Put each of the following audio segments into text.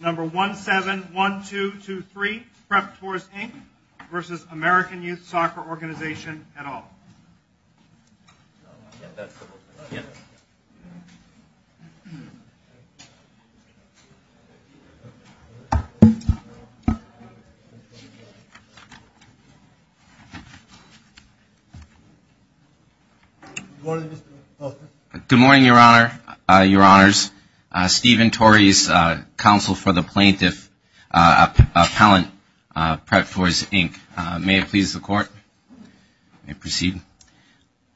Number 171223, PREP Tours Inc. v. American Youth Soccer Org. et al. Good morning, Your Honor. Your Honors. Stephen Torres, Counsel for the Plaintiff, Appellant of PREP Tours Inc. May it please the Court. May it proceed.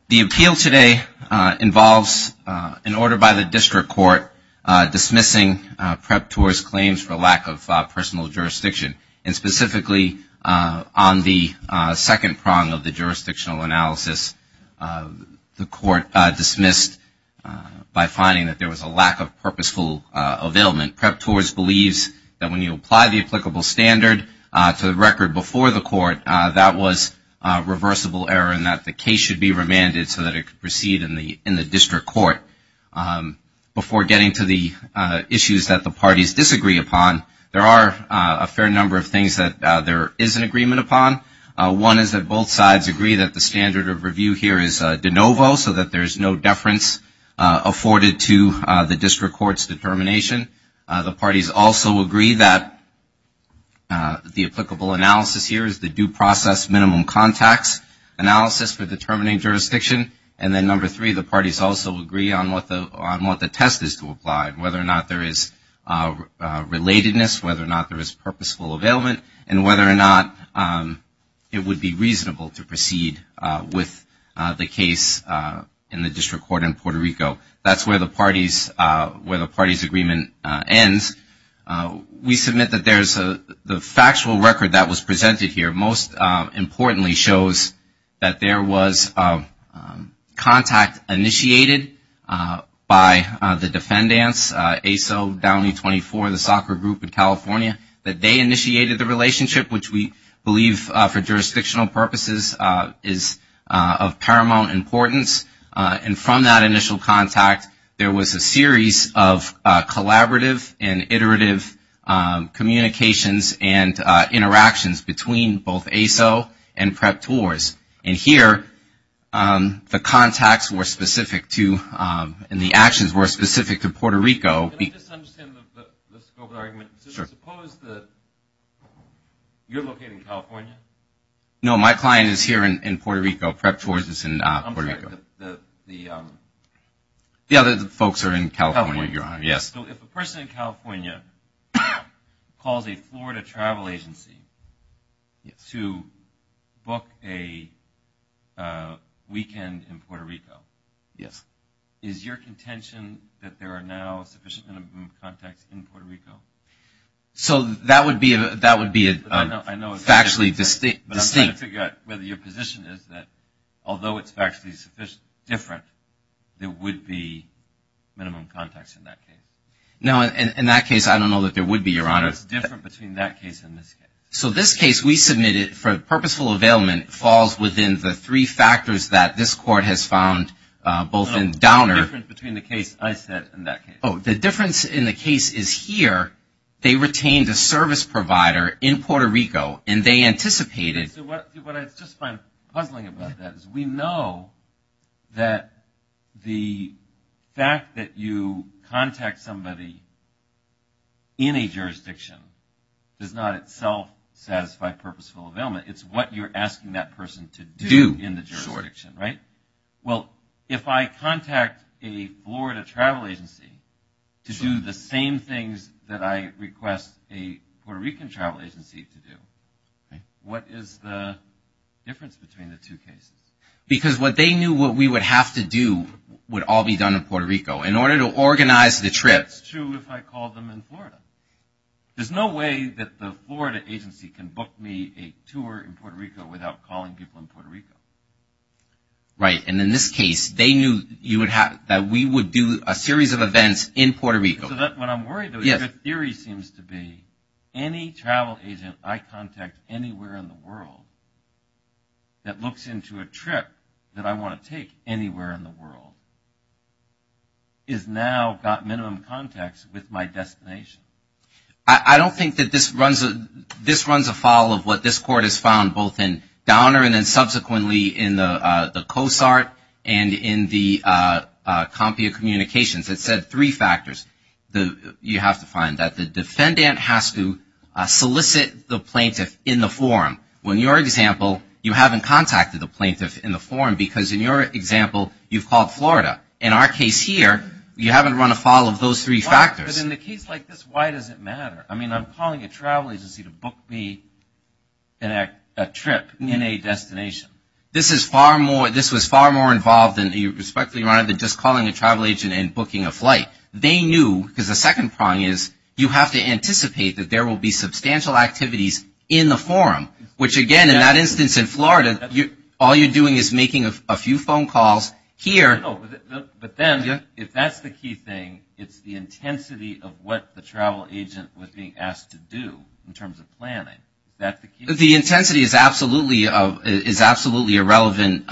The appeal today involves an order by the District Court dismissing PREP Tours' claims for lack of personal jurisdiction. And specifically on the second prong of the jurisdictional analysis, the Court dismissed by finding that there was a lack of purposeful availment. PREP Tours believes that when you apply the applicable standard to the record before the Court, that was reversible error and that the case should be remanded so that it could proceed in the District Court. Before getting to the issues that the parties disagree upon, there are a fair number of things that there is an agreement upon. One is that both sides agree that the standard of review here is de novo, so that there is no deference afforded to the District Court's determination. The parties also agree that the applicable analysis here is the due process minimum contacts analysis for determining jurisdiction. And then number three, the parties also agree on what the test is to apply, whether or not there is relatedness, whether or not there is purposeful availment, and whether or not it would be reasonable to proceed with the case in the District Court. And then finally, before the case agreement ends, we submit that the factual record that was presented here most importantly shows that there was contact initiated by the defendants, ASO, Downey 24, the soccer group in California, that they initiated the relationship, which we believe for collaborative and iterative communications and interactions between both ASO and PrEP TORS. And here, the contacts were specific to, and the actions were specific to Puerto Rico. Can I just understand the scope of the argument? Suppose that you're located in California? No, my client is here in Puerto Rico, PrEP TORS is in Puerto Rico. I'm sorry, the... Yeah, the folks are in California, Your Honor, yes. So if a person in California calls a Florida travel agency to book a weekend in Puerto Rico... Yes. Is your contention that there are now sufficient minimum contacts in Puerto Rico? So that would be a factually distinct... But I'm trying to figure out whether your position is that although it's factually different, there would be minimum contacts in that case. No, in that case, I don't know that there would be, Your Honor. So what's different between that case and this case? So this case we submitted for purposeful availment falls within the three factors that this court has found both in Downer... No, what's the difference between the case I said and that case? Oh, the difference in the case is here, they retained a service provider in Puerto Rico, and they anticipated... Okay, so what I just find puzzling about that is we know that the fact that you contact somebody in a jurisdiction does not itself satisfy purposeful availment, it's what you're asking that person to do in the jurisdiction, right? Well, if I contact a Florida travel agency to do the same things that I request a Puerto Rican travel agency to do, what is the difference between the two cases? Because what they knew what we would have to do would all be done in Puerto Rico. In order to organize the trips... It's true if I called them in Florida. There's no way that the Florida agency can book me a tour in Puerto Rico without calling people in Puerto Rico. Right, and in this case, they knew that we would do a series of events in Puerto Rico. When I'm worried, the theory seems to be any travel agent I contact anywhere in the world that looks into a trip that I want to take anywhere in the world has now got minimum contacts with my destination. I don't think that this runs afoul of what this Court has found both in Downer and then subsequently in the COSART and in the Compia Communications. It said three factors. You have to find that the defendant has to solicit the plaintiff in the forum. In your example, you haven't contacted the plaintiff in the forum because in your example, you've called Florida. In our case here, you haven't run afoul of those three factors. But in a case like this, why does it matter? I mean, I'm calling a travel agency to book me a trip in a destination. This was far more involved than just calling a travel agent and booking a flight. They knew because the second prong is you have to anticipate that there will be substantial activities in the forum, which again in that instance in Florida, all you're doing is making a few phone calls here. But then if that's the key thing, it's the intensity of what the travel agent was being asked to do in terms of planning. The intensity is absolutely a relevant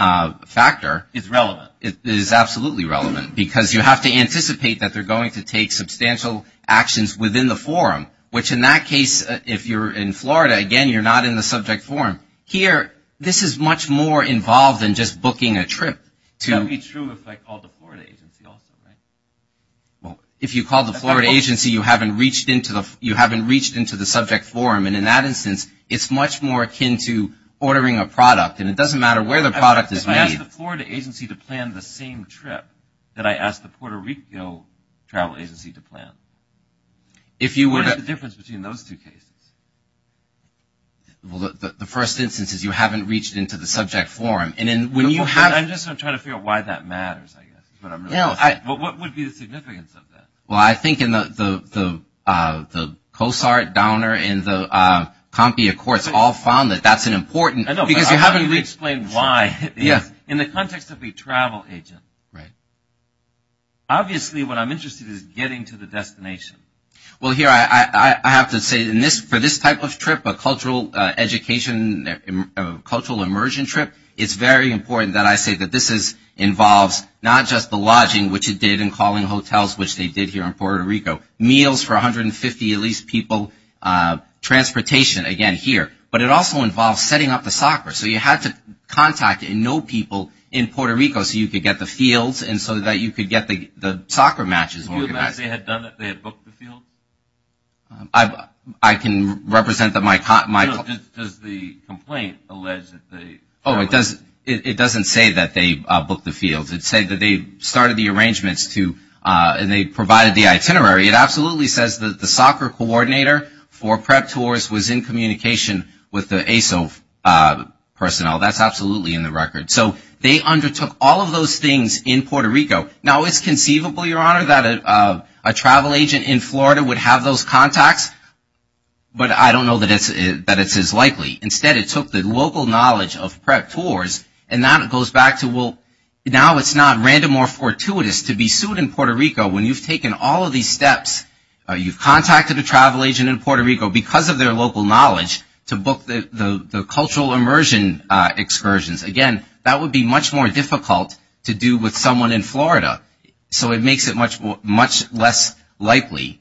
factor. It's relevant. It is absolutely relevant because you have to anticipate that they're going to take substantial actions within the forum, which in that case, if you're in Florida, again, you're not in the subject forum. Here, this is much more involved than just booking a trip. That would be true if I called the Florida agency also, right? If you called the Florida agency, you haven't reached into the subject forum. And in that instance, it's much more akin to ordering a product. And it doesn't matter where the product is made. I asked the Florida agency to plan the same trip that I asked the Puerto Rico travel agency to plan. What is the difference between those two cases? Well, the first instance is you haven't reached into the subject forum. What would be the significance of that? Well, I think in the COSART, Downer, and the Compia courts all found that that's an important – I know, but how do you explain why in the context of a travel agent? Obviously, what I'm interested in is getting to the destination. Well, here, I have to say for this type of trip, a cultural education, a cultural immersion trip, it's very important that I say that this involves not just the lodging, which it did, and calling hotels, which they did here in Puerto Rico, meals for 150 at least people, transportation, again, here. But it also involves setting up the soccer. So you had to contact and know people in Puerto Rico so you could get the fields and so that you could get the soccer matches organized. Do you imagine they had done it? They had booked the field? I can represent that my – Does the complaint allege that they – Oh, it doesn't say that they booked the fields. It said that they started the arrangements to – and they provided the itinerary. It absolutely says that the soccer coordinator for prep tours was in communication with the ASO personnel. That's absolutely in the record. So they undertook all of those things in Puerto Rico. Now, it's conceivable, Your Honor, that a travel agent in Florida would have those contacts, but I don't know that it's as likely. Instead, it took the local knowledge of prep tours and now it goes back to, well, now it's not random or fortuitous to be sued in Puerto Rico when you've taken all of these steps. You've contacted a travel agent in Puerto Rico because of their local knowledge to book the cultural immersion excursions. Again, that would be much more difficult to do with someone in Florida, so it makes it much less likely.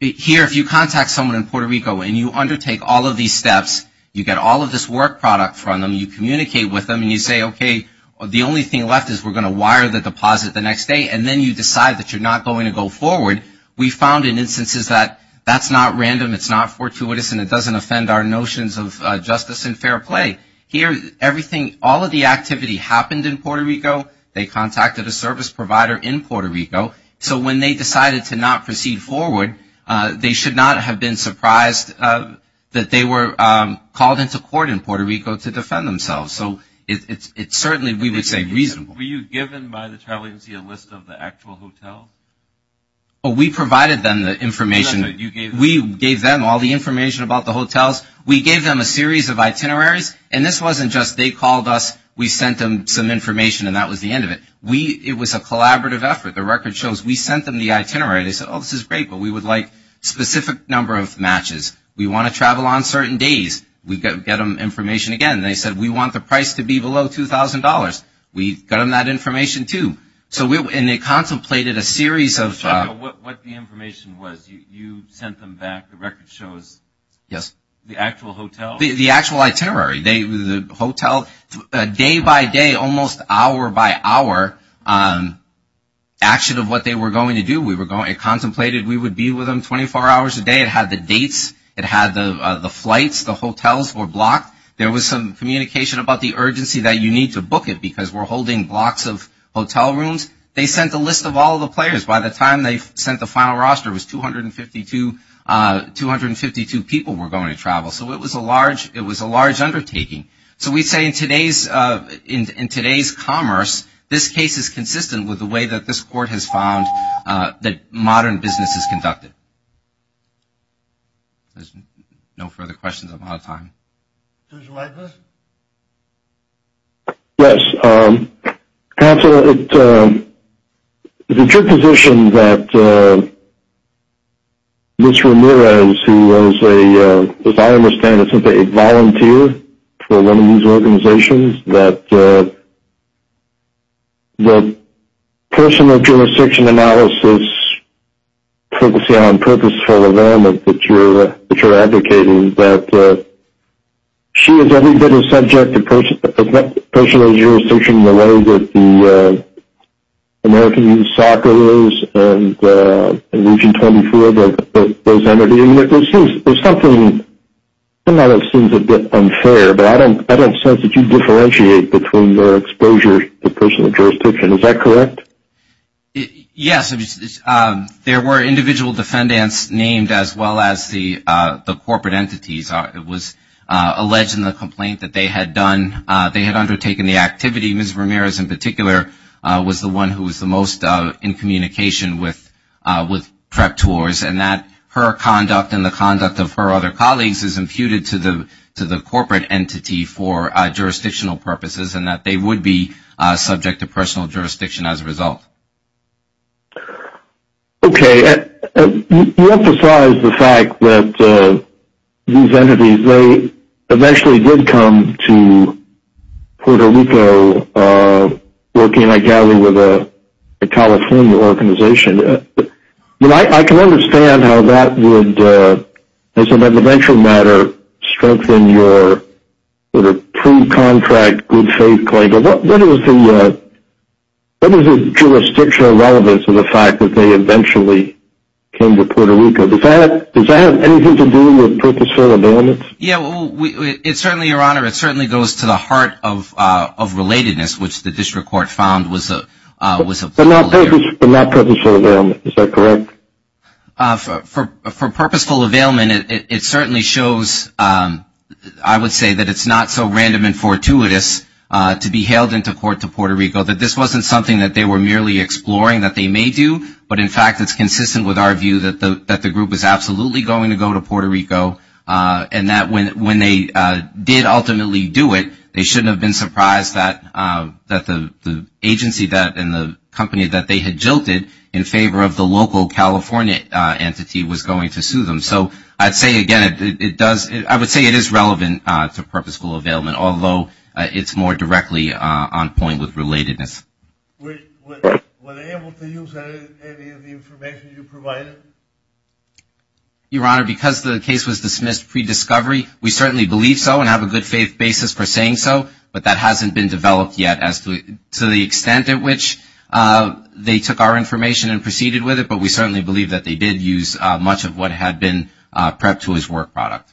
Here, if you contact someone in Puerto Rico and you undertake all of these steps, you get all of this work product from them, you communicate with them, and you say, okay, the only thing left is we're going to wire the deposit the next day, and then you decide that you're not going to go forward. We found in instances that that's not random, it's not fortuitous, and it doesn't offend our notions of justice and fair play. Here, everything – all of the activity happened in Puerto Rico. They contacted a service provider in Puerto Rico. So when they decided to not proceed forward, they should not have been surprised that they were called into court in Puerto Rico to defend themselves. So it's certainly, we would say, reasonable. Were you given by the travel agency a list of the actual hotels? We provided them the information. We gave them all the information about the hotels. We gave them a series of itineraries, and this wasn't just they called us, we sent them some information, and that was the end of it. It was a collaborative effort. The record shows we sent them the itinerary. They said, oh, this is great, but we would like a specific number of matches. We want to travel on certain days. We get them information again. They said, we want the price to be below $2,000. We got them that information, too. And they contemplated a series of – What the information was. You sent them back, the record shows. Yes. The actual hotel. The actual itinerary. The hotel, day by day, almost hour by hour, action of what they were going to do. It contemplated we would be with them 24 hours a day. It had the dates. It had the flights. The hotels were blocked. There was some communication about the urgency that you need to book it because we're holding blocks of hotel rooms. They sent a list of all the players. By the time they sent the final roster, it was 252 people were going to travel. So it was a large undertaking. So we say in today's commerce, this case is consistent with the way that this court has found that modern business is conducted. No further questions. I'm out of time. Yes. Counselor, it's your position that Ms. Ramirez, who was, as I understand it, simply a volunteer for one of these organizations, that personal jurisdiction analysis, focusing on purposeful environment that you're advocating, that she is every bit as subject to personal jurisdiction in the way that the American Soccer is and Region 24, those entities. There's something that seems a bit unfair, but I don't sense that you differentiate between your exposure to personal jurisdiction. Is that correct? Yes. There were individual defendants named as well as the corporate entities. It was alleged in the complaint that they had undertaken the activity. Ms. Ramirez, in particular, was the one who was the most in communication with prep tours, and that her conduct and the conduct of her other colleagues is imputed to the corporate entity for jurisdictional purposes and that they would be subject to personal jurisdiction as a result. Okay. You emphasized the fact that these entities, they eventually did come to Puerto Rico, working, I gather, with a California organization. I can understand how that would, as an evidential matter, strengthen your pre-contract good faith claim, but what is the jurisdictional relevance of the fact that they eventually came to Puerto Rico? Does that have anything to do with purposeful abandonment? Yes. It certainly, Your Honor, it certainly goes to the heart of relatedness, which the district court found was a- But not purposeful abandonment. Is that correct? For purposeful abandonment, it certainly shows, I would say, that it's not so random and fortuitous to be hailed into court to Puerto Rico, that this wasn't something that they were merely exploring that they may do, but in fact it's consistent with our view that the group was absolutely going to go to Puerto Rico and that when they did ultimately do it, they shouldn't have been surprised that the agency and the company that they had jilted in favor of the local California entity was going to sue them. So I'd say, again, it does, I would say it is relevant to purposeful abandonment, although it's more directly on point with relatedness. Were they able to use any of the information you provided? Your Honor, because the case was dismissed pre-discovery, we certainly believe so and have a good faith basis for saying so, but that hasn't been developed yet as to the extent at which they took our information and proceeded with it, but we certainly believe that they did use much of what had been prepped to his work product.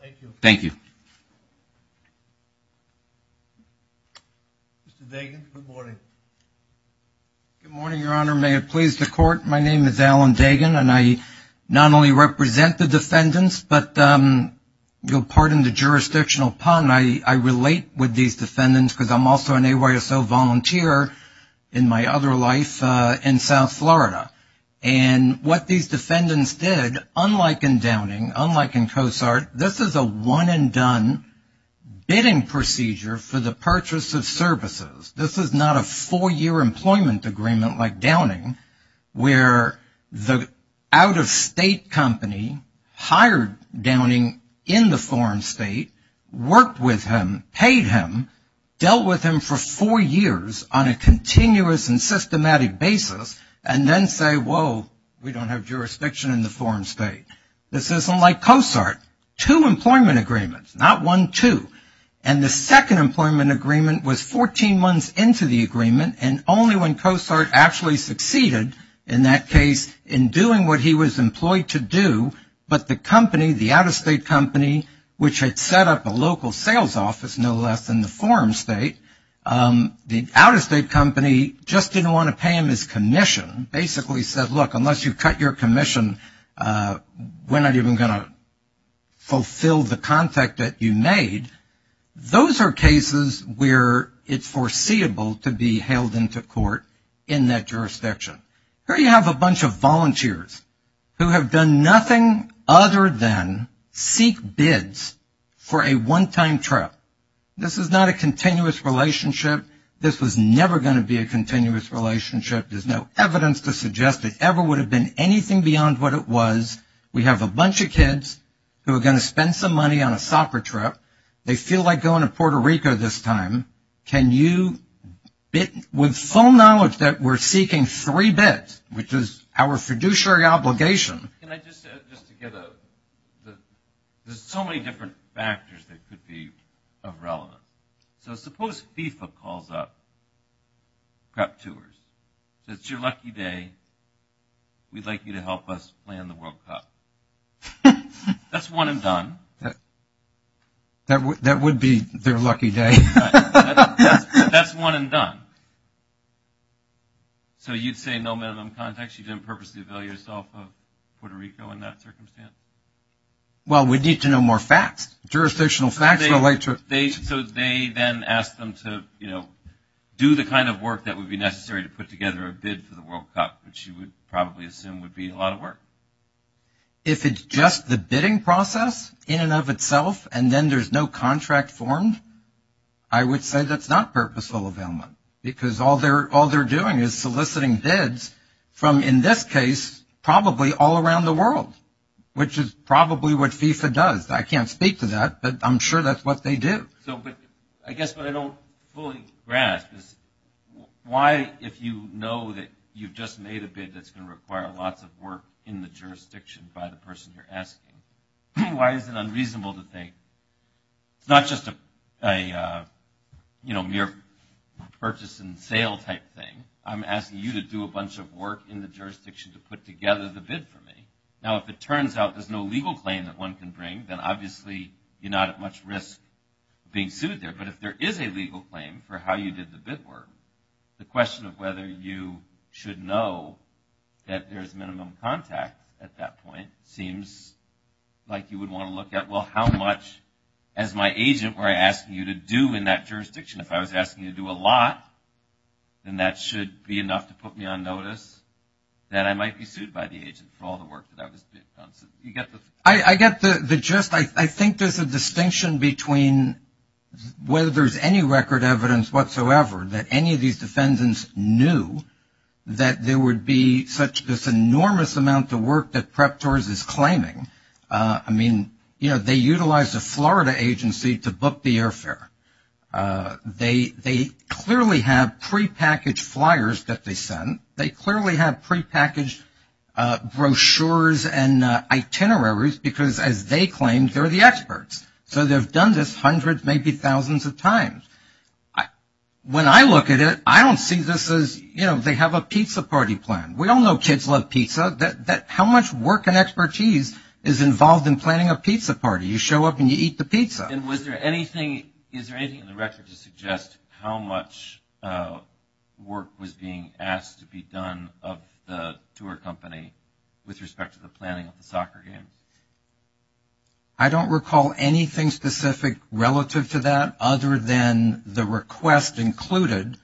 Thank you. Thank you. Mr. Dagan, good morning. Good morning, Your Honor. May it please the Court, my name is Alan Dagan, and I not only represent the defendants, but pardon the jurisdictional pun, I relate with these defendants because I'm also an AYSO volunteer in my other life in South Florida. And what these defendants did, unlike in Downing, unlike in COSART, this is a one and done bidding procedure for the purchase of services. This is not a four-year employment agreement like Downing, where the out-of-state company hired Downing in the foreign state, worked with him, paid him, dealt with him for four years on a continuous and systematic basis, and then say, whoa, we don't have jurisdiction in the foreign state. This isn't like COSART, two employment agreements, not one, two. And the second employment agreement was 14 months into the agreement, and only when COSART actually succeeded in that case in doing what he was employed to do, but the company, the out-of-state company, which had set up a local sales office, no less, in the foreign state, the out-of-state company just didn't want to pay him his commission, basically said, look, unless you cut your commission, we're not even going to fulfill the contract that you made. Those are cases where it's foreseeable to be hailed into court in that jurisdiction. Here you have a bunch of volunteers who have done nothing other than seek bids for a one-time trip. This is not a continuous relationship. This was never going to be a continuous relationship. There's no evidence to suggest it ever would have been anything beyond what it was. We have a bunch of kids who are going to spend some money on a soccer trip. They feel like going to Puerto Rico this time. Can you, with full knowledge that we're seeking three bids, which is our fiduciary obligation. Can I just, just to get a, there's so many different factors that could be irrelevant. So suppose FIFA calls up, prep tours. It's your lucky day. We'd like you to help us plan the World Cup. That's one and done. That would be their lucky day. That's one and done. So you'd say no minimum context? You didn't purposely avail yourself of Puerto Rico in that circumstance? Well, we'd need to know more facts. Jurisdictional facts relate to it. So they then ask them to, you know, do the kind of work that would be necessary to put together a bid for the World Cup, which you would probably assume would be a lot of work. If it's just the bidding process in and of itself, and then there's no contract formed, I would say that's not purposeful availment. Because all they're doing is soliciting bids from, in this case, probably all around the world, which is probably what FIFA does. I can't speak to that, but I'm sure that's what they do. So I guess what I don't fully grasp is why, if you know that you've just made a bid that's going to require lots of work in the jurisdiction by the person you're asking, why is it unreasonable to think it's not just a, you know, mere purchase and sale type thing. I'm asking you to do a bunch of work in the jurisdiction to put together the bid for me. Now, if it turns out there's no legal claim that one can bring, then obviously you're not at much risk of being sued there. But if there is a legal claim for how you did the bid work, the question of whether you should know that there's minimum contact at that point seems like you would want to look at, well, how much, as my agent, were I asking you to do in that jurisdiction. If I was asking you to do a lot, then that should be enough to put me on notice that I might be sued by the agent for all the work that I was doing. I get the gist. I think there's a distinction between whether there's any record evidence whatsoever that any of these defendants knew that there would be such this enormous amount of work that PREPTORS is claiming. I mean, you know, they utilized a Florida agency to book the airfare. They clearly have prepackaged flyers that they sent. They clearly have prepackaged brochures and itineraries because, as they claimed, they're the experts. So they've done this hundreds, maybe thousands of times. When I look at it, I don't see this as, you know, they have a pizza party planned. We all know kids love pizza. How much work and expertise is involved in planning a pizza party? You show up and you eat the pizza. And was there anything, is there anything in the record to suggest how much work was being asked to be done of the tour company with respect to the planning of the soccer game? I don't recall anything specific relative to that other than the request included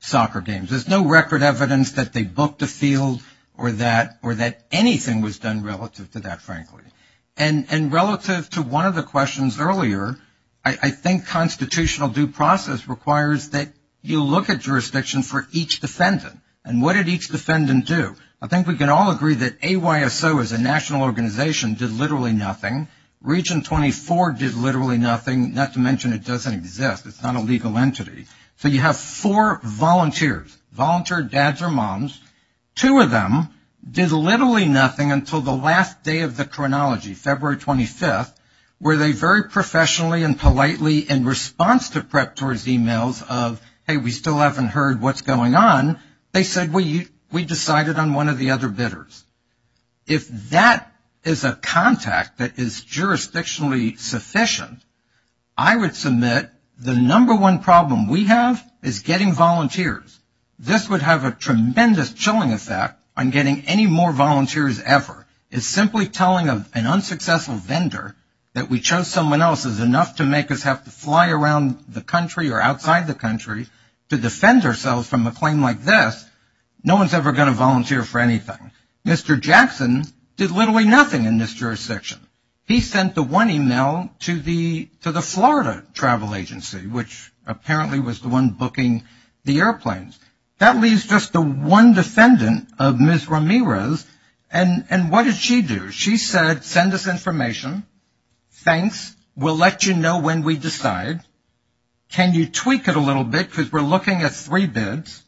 soccer games. There's no record evidence that they booked a field or that anything was done relative to that, frankly. And relative to one of the questions earlier, I think constitutional due process requires that you look at jurisdiction for each defendant. And what did each defendant do? I think we can all agree that AYSO as a national organization did literally nothing. Region 24 did literally nothing, not to mention it doesn't exist. It's not a legal entity. So you have four volunteers, volunteer dads or moms. Two of them did literally nothing until the last day of the chronology, February 25th, where they very professionally and politely in response to prep tours emails of, hey, we still haven't heard what's going on, they said we decided on one of the other bidders. If that is a contact that is jurisdictionally sufficient, I would submit the number one problem we have is getting volunteers. This would have a tremendous chilling effect on getting any more volunteers ever. It's simply telling an unsuccessful vendor that we chose someone else is enough to make us have to fly around the country or outside the country to defend ourselves from a claim like this. No one's ever going to volunteer for anything. Mr. Jackson did literally nothing in this jurisdiction. He sent the one email to the Florida Travel Agency, which apparently was the one booking the airplanes. That leaves just the one defendant of Ms. Ramirez. And what did she do? She said send us information. Thanks. We'll let you know when we decide. Can you tweak it a little bit because we're looking at three bids.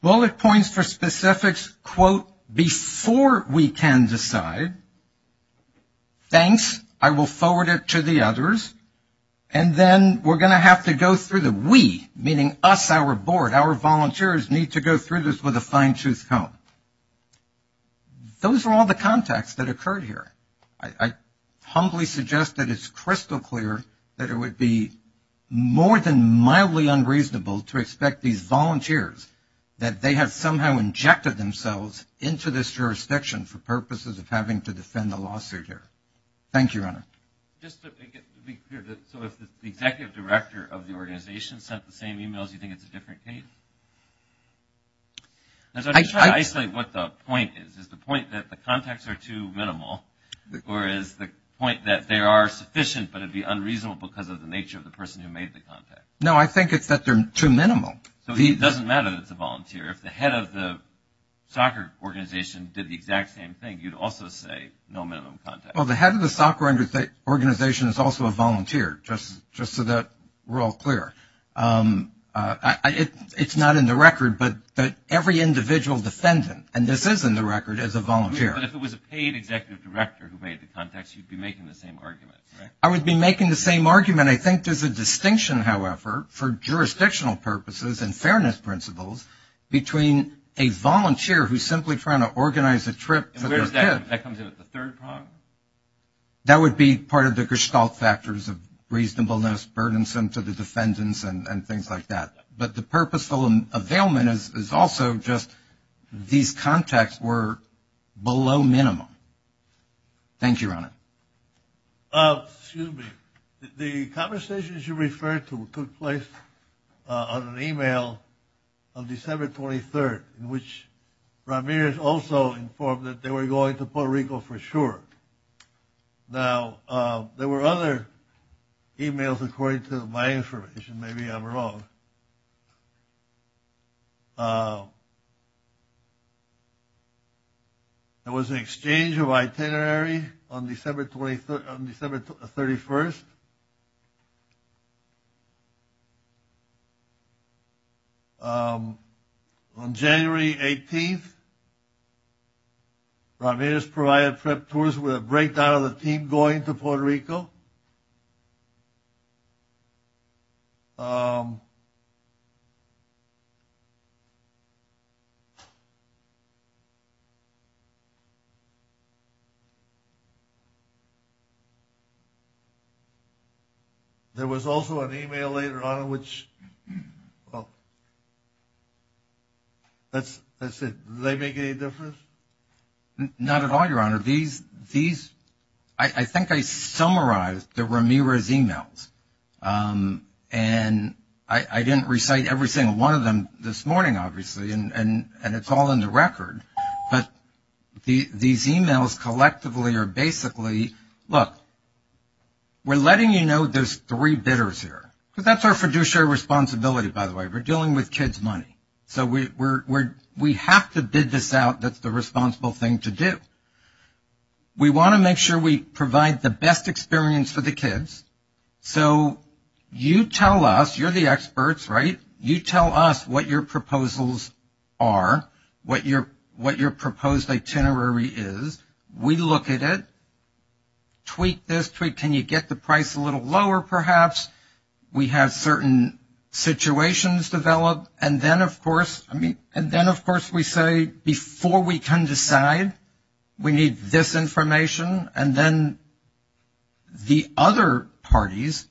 Bullet points for specifics, quote, before we can decide. Thanks. I will forward it to the others. And then we're going to have to go through the we, meaning us, our board, our volunteers need to go through this with a fine-tooth comb. Those are all the contacts that occurred here. I humbly suggest that it's crystal clear that it would be more than mildly unreasonable to expect these volunteers, that they have somehow injected themselves into this jurisdiction for purposes of having to defend the lawsuit here. Thank you, Your Honor. Just to be clear, so if the executive director of the organization sent the same emails, you think it's a different case? I'm trying to isolate what the point is. Is the point that the contacts are too minimal or is the point that they are sufficient but it would be unreasonable because of the nature of the person who made the contact? No, I think it's that they're too minimal. So it doesn't matter that it's a volunteer. If the head of the soccer organization did the exact same thing, you'd also say no minimum contacts. Well, the head of the soccer organization is also a volunteer, just so that we're all clear. It's not in the record, but every individual defendant, and this is in the record, is a volunteer. But if it was a paid executive director who made the contacts, you'd be making the same argument, right? I would be making the same argument. I think there's a distinction, however, for jurisdictional purposes and fairness principles, between a volunteer who's simply trying to organize a trip for their kid. And where's that? That comes in at the third prong? That would be part of the Gestalt factors of reasonableness, burdensome to the defendants and things like that. But the purposeful availment is also just these contacts were below minimum. Thank you, Your Honor. Excuse me. The conversations you referred to took place on an e-mail on December 23rd, in which Ramirez also informed that they were going to Puerto Rico for sure. Now, there were other e-mails according to my information. Maybe I'm wrong. There was an exchange of itinerary on December 31st. On January 18th, Ramirez provided prep tours with a breakdown of the team going to Puerto Rico. There was also an e-mail later on, which, well, that's it. Did they make any difference? Not at all, Your Honor. I think I summarized the Ramirez e-mails. And I didn't recite every single one of them this morning, obviously, and it's all in the record. But these e-mails collectively are basically, look, we're letting you know there's three bidders here. Because that's our fiduciary responsibility, by the way. We're dealing with kids' money. So we have to bid this out. That's the responsible thing to do. We want to make sure we provide the best experience for the kids. So you tell us, you're the experts, right? You tell us what your proposals are, what your proposed itinerary is. We look at it, tweak this, tweak can you get the price a little lower perhaps. We have certain situations develop. And then, of course, we say before we can decide, we need this information. And then the other parties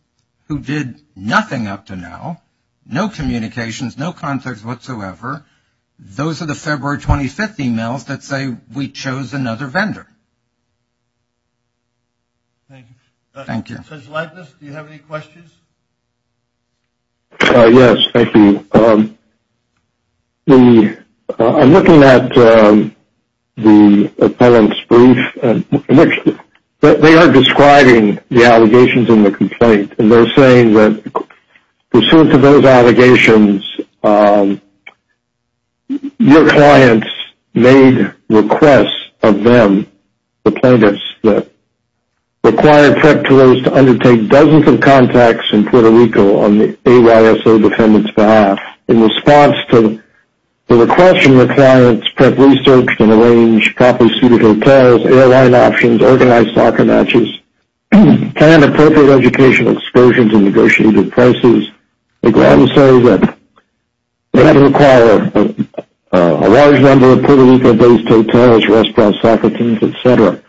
who did nothing up to now, no communications, no context whatsoever, those are the February 25th e-mails that say we chose another vendor. Thank you. Judge Leibniz, do you have any questions? Yes, thank you. I'm looking at the appellant's brief. They are describing the allegations in the complaint, and they're saying that pursuant to those allegations, your clients made requests of them, the plaintiffs, that required PREP tours to undertake dozens of contacts in Puerto Rico on the AYSO defendant's behalf. In response to the request from the clients, PREP researched and arranged properly suited hotels, airline options, organized soccer matches, planned appropriate educational excursions and negotiated prices. The clients say that they had to require a large number of Puerto Rico-based hotels, restaurants, soccer teams, et cetera.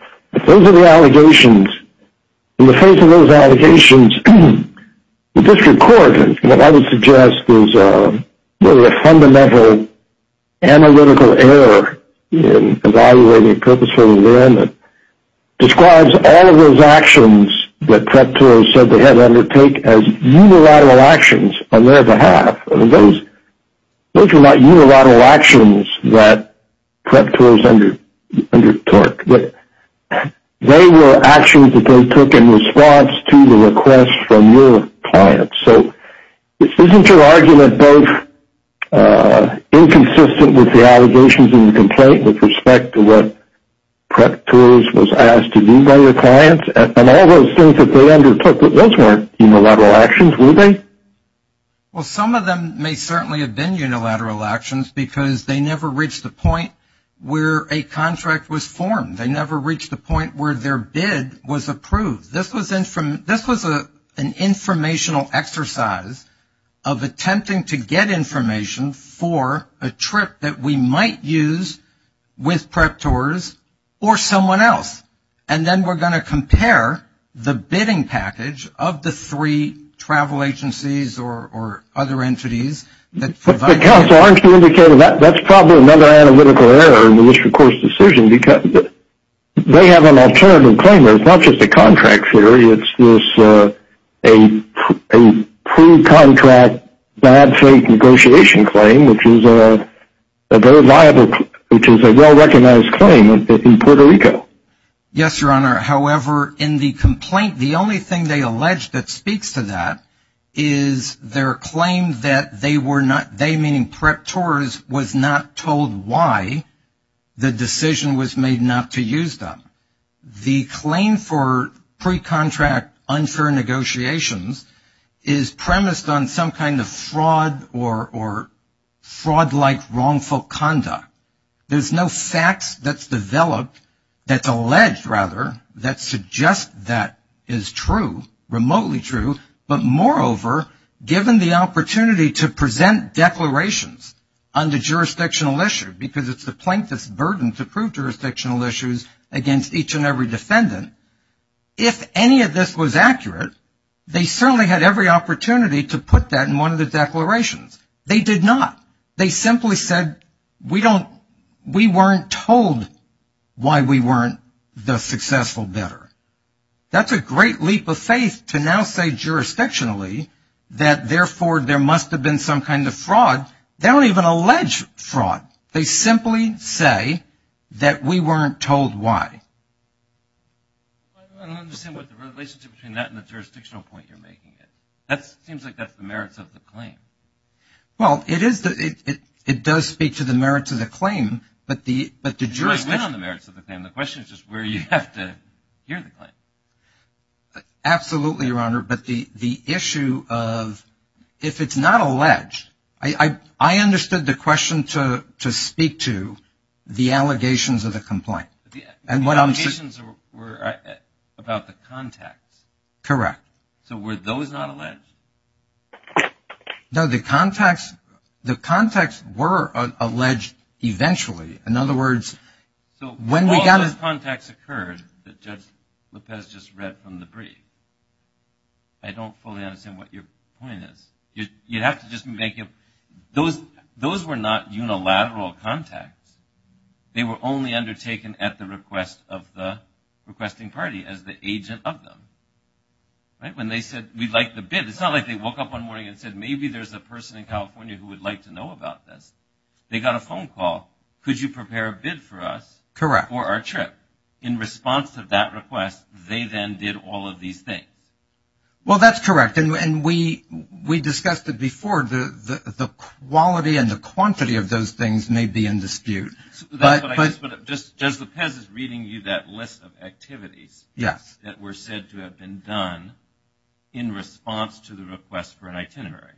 Those are the allegations. In the face of those allegations, the district court, what I would suggest, is really a fundamental analytical error in evaluating a purposeful agreement. It describes all of those actions that PREP tours said they had to undertake as unilateral actions on their behalf. Those are not unilateral actions that PREP tours undertook, but they were actions that they took in response to the request from your clients. So isn't your argument both inconsistent with the allegations in the complaint with respect to what PREP tours was asked to do by your clients and all those things that they undertook? Those weren't unilateral actions, were they? Well, some of them may certainly have been unilateral actions because they never reached the point where a contract was formed. They never reached the point where their bid was approved. This was an informational exercise of attempting to get information for a trip that we might use with PREP tours or someone else. And then we're going to compare the bidding package of the three travel agencies or other entities that provided it. But, Counsel, aren't you indicating that's probably another analytical error in the district court's decision because they have an alternative claim. It's not just a contract failure. It's a pre-contract, bad-faith negotiation claim, which is a very liable, which is a well-recognized claim in Puerto Rico. Yes, Your Honor. However, in the complaint, the only thing they allege that speaks to that is their claim that they were not, they, meaning PREP tours, was not told why the decision was made not to use them. The claim for pre-contract unfair negotiations is premised on some kind of fraud or fraud-like wrongful conduct. There's no facts that's developed, that's alleged, rather, that suggest that is true, remotely true. But, moreover, given the opportunity to present declarations on the jurisdictional issue, because it's the plaintiff's burden to prove jurisdictional issues against each and every defendant, if any of this was accurate, they certainly had every opportunity to put that in one of the declarations. They did not. They simply said we don't, we weren't told why we weren't the successful bidder. That's a great leap of faith to now say jurisdictionally that, therefore, there must have been some kind of fraud. They don't even allege fraud. They simply say that we weren't told why. I don't understand the relationship between that and the jurisdictional point you're making. It seems like that's the merits of the claim. Well, it is, it does speak to the merits of the claim, but the jurisdiction The question is just where you have to hear the claim. Absolutely, Your Honor. But the issue of if it's not alleged, I understood the question to speak to the allegations of the complaint. The allegations were about the contacts. Correct. So were those not alleged? No, the contacts were alleged eventually. In other words, when we got it. So all those contacts occurred that Judge Lopez just read from the brief. I don't fully understand what your point is. You have to just make it, those were not unilateral contacts. They were only undertaken at the request of the requesting party as the agent of them. When they said we'd like the bid, it's not like they woke up one morning and said maybe there's a person in California who would like to know about this. They got a phone call. Could you prepare a bid for us? Correct. For our trip. In response to that request, they then did all of these things. Well, that's correct. And we discussed it before, the quality and the quantity of those things may be in dispute. But Judge Lopez is reading you that list of activities. Yes. That were said to have been done in response to the request for an itinerary.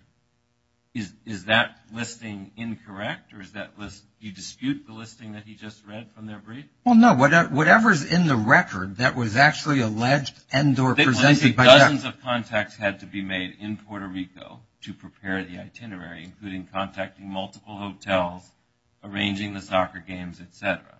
Is that listing incorrect? Or is that list, do you dispute the listing that he just read from their brief? Well, no. Whatever is in the record that was actually alleged and or presented by that. They listed dozens of contacts had to be made in Puerto Rico to prepare the itinerary, including contacting multiple hotels, arranging the soccer games, et cetera.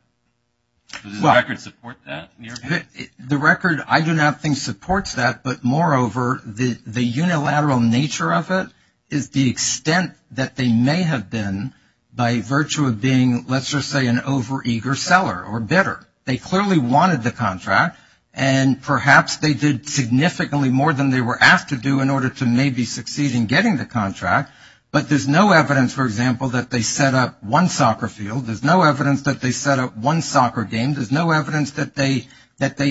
Does the record support that in your opinion? The record I do not think supports that. But, moreover, the unilateral nature of it is the extent that they may have been by virtue of being, let's just say, an overeager seller or bidder. They clearly wanted the contract, and perhaps they did significantly more than they were asked to do in order to maybe succeed in getting the contract. But there's no evidence, for example, that they set up one soccer field. There's no evidence that they set up one soccer game. There's no evidence that they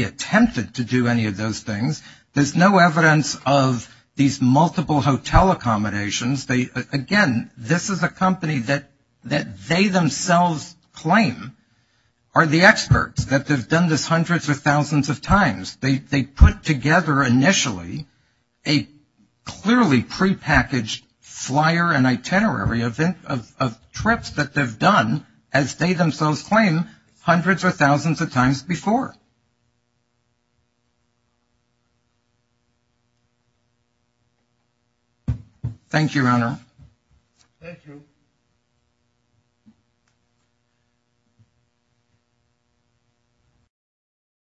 attempted to do any of those things. There's no evidence of these multiple hotel accommodations. Again, this is a company that they themselves claim are the experts, that they've done this hundreds or thousands of times. They put together initially a clearly prepackaged flyer and itinerary of trips that they've done, as they themselves claim, hundreds or thousands of times before. Thank you, Your Honor. Thank you.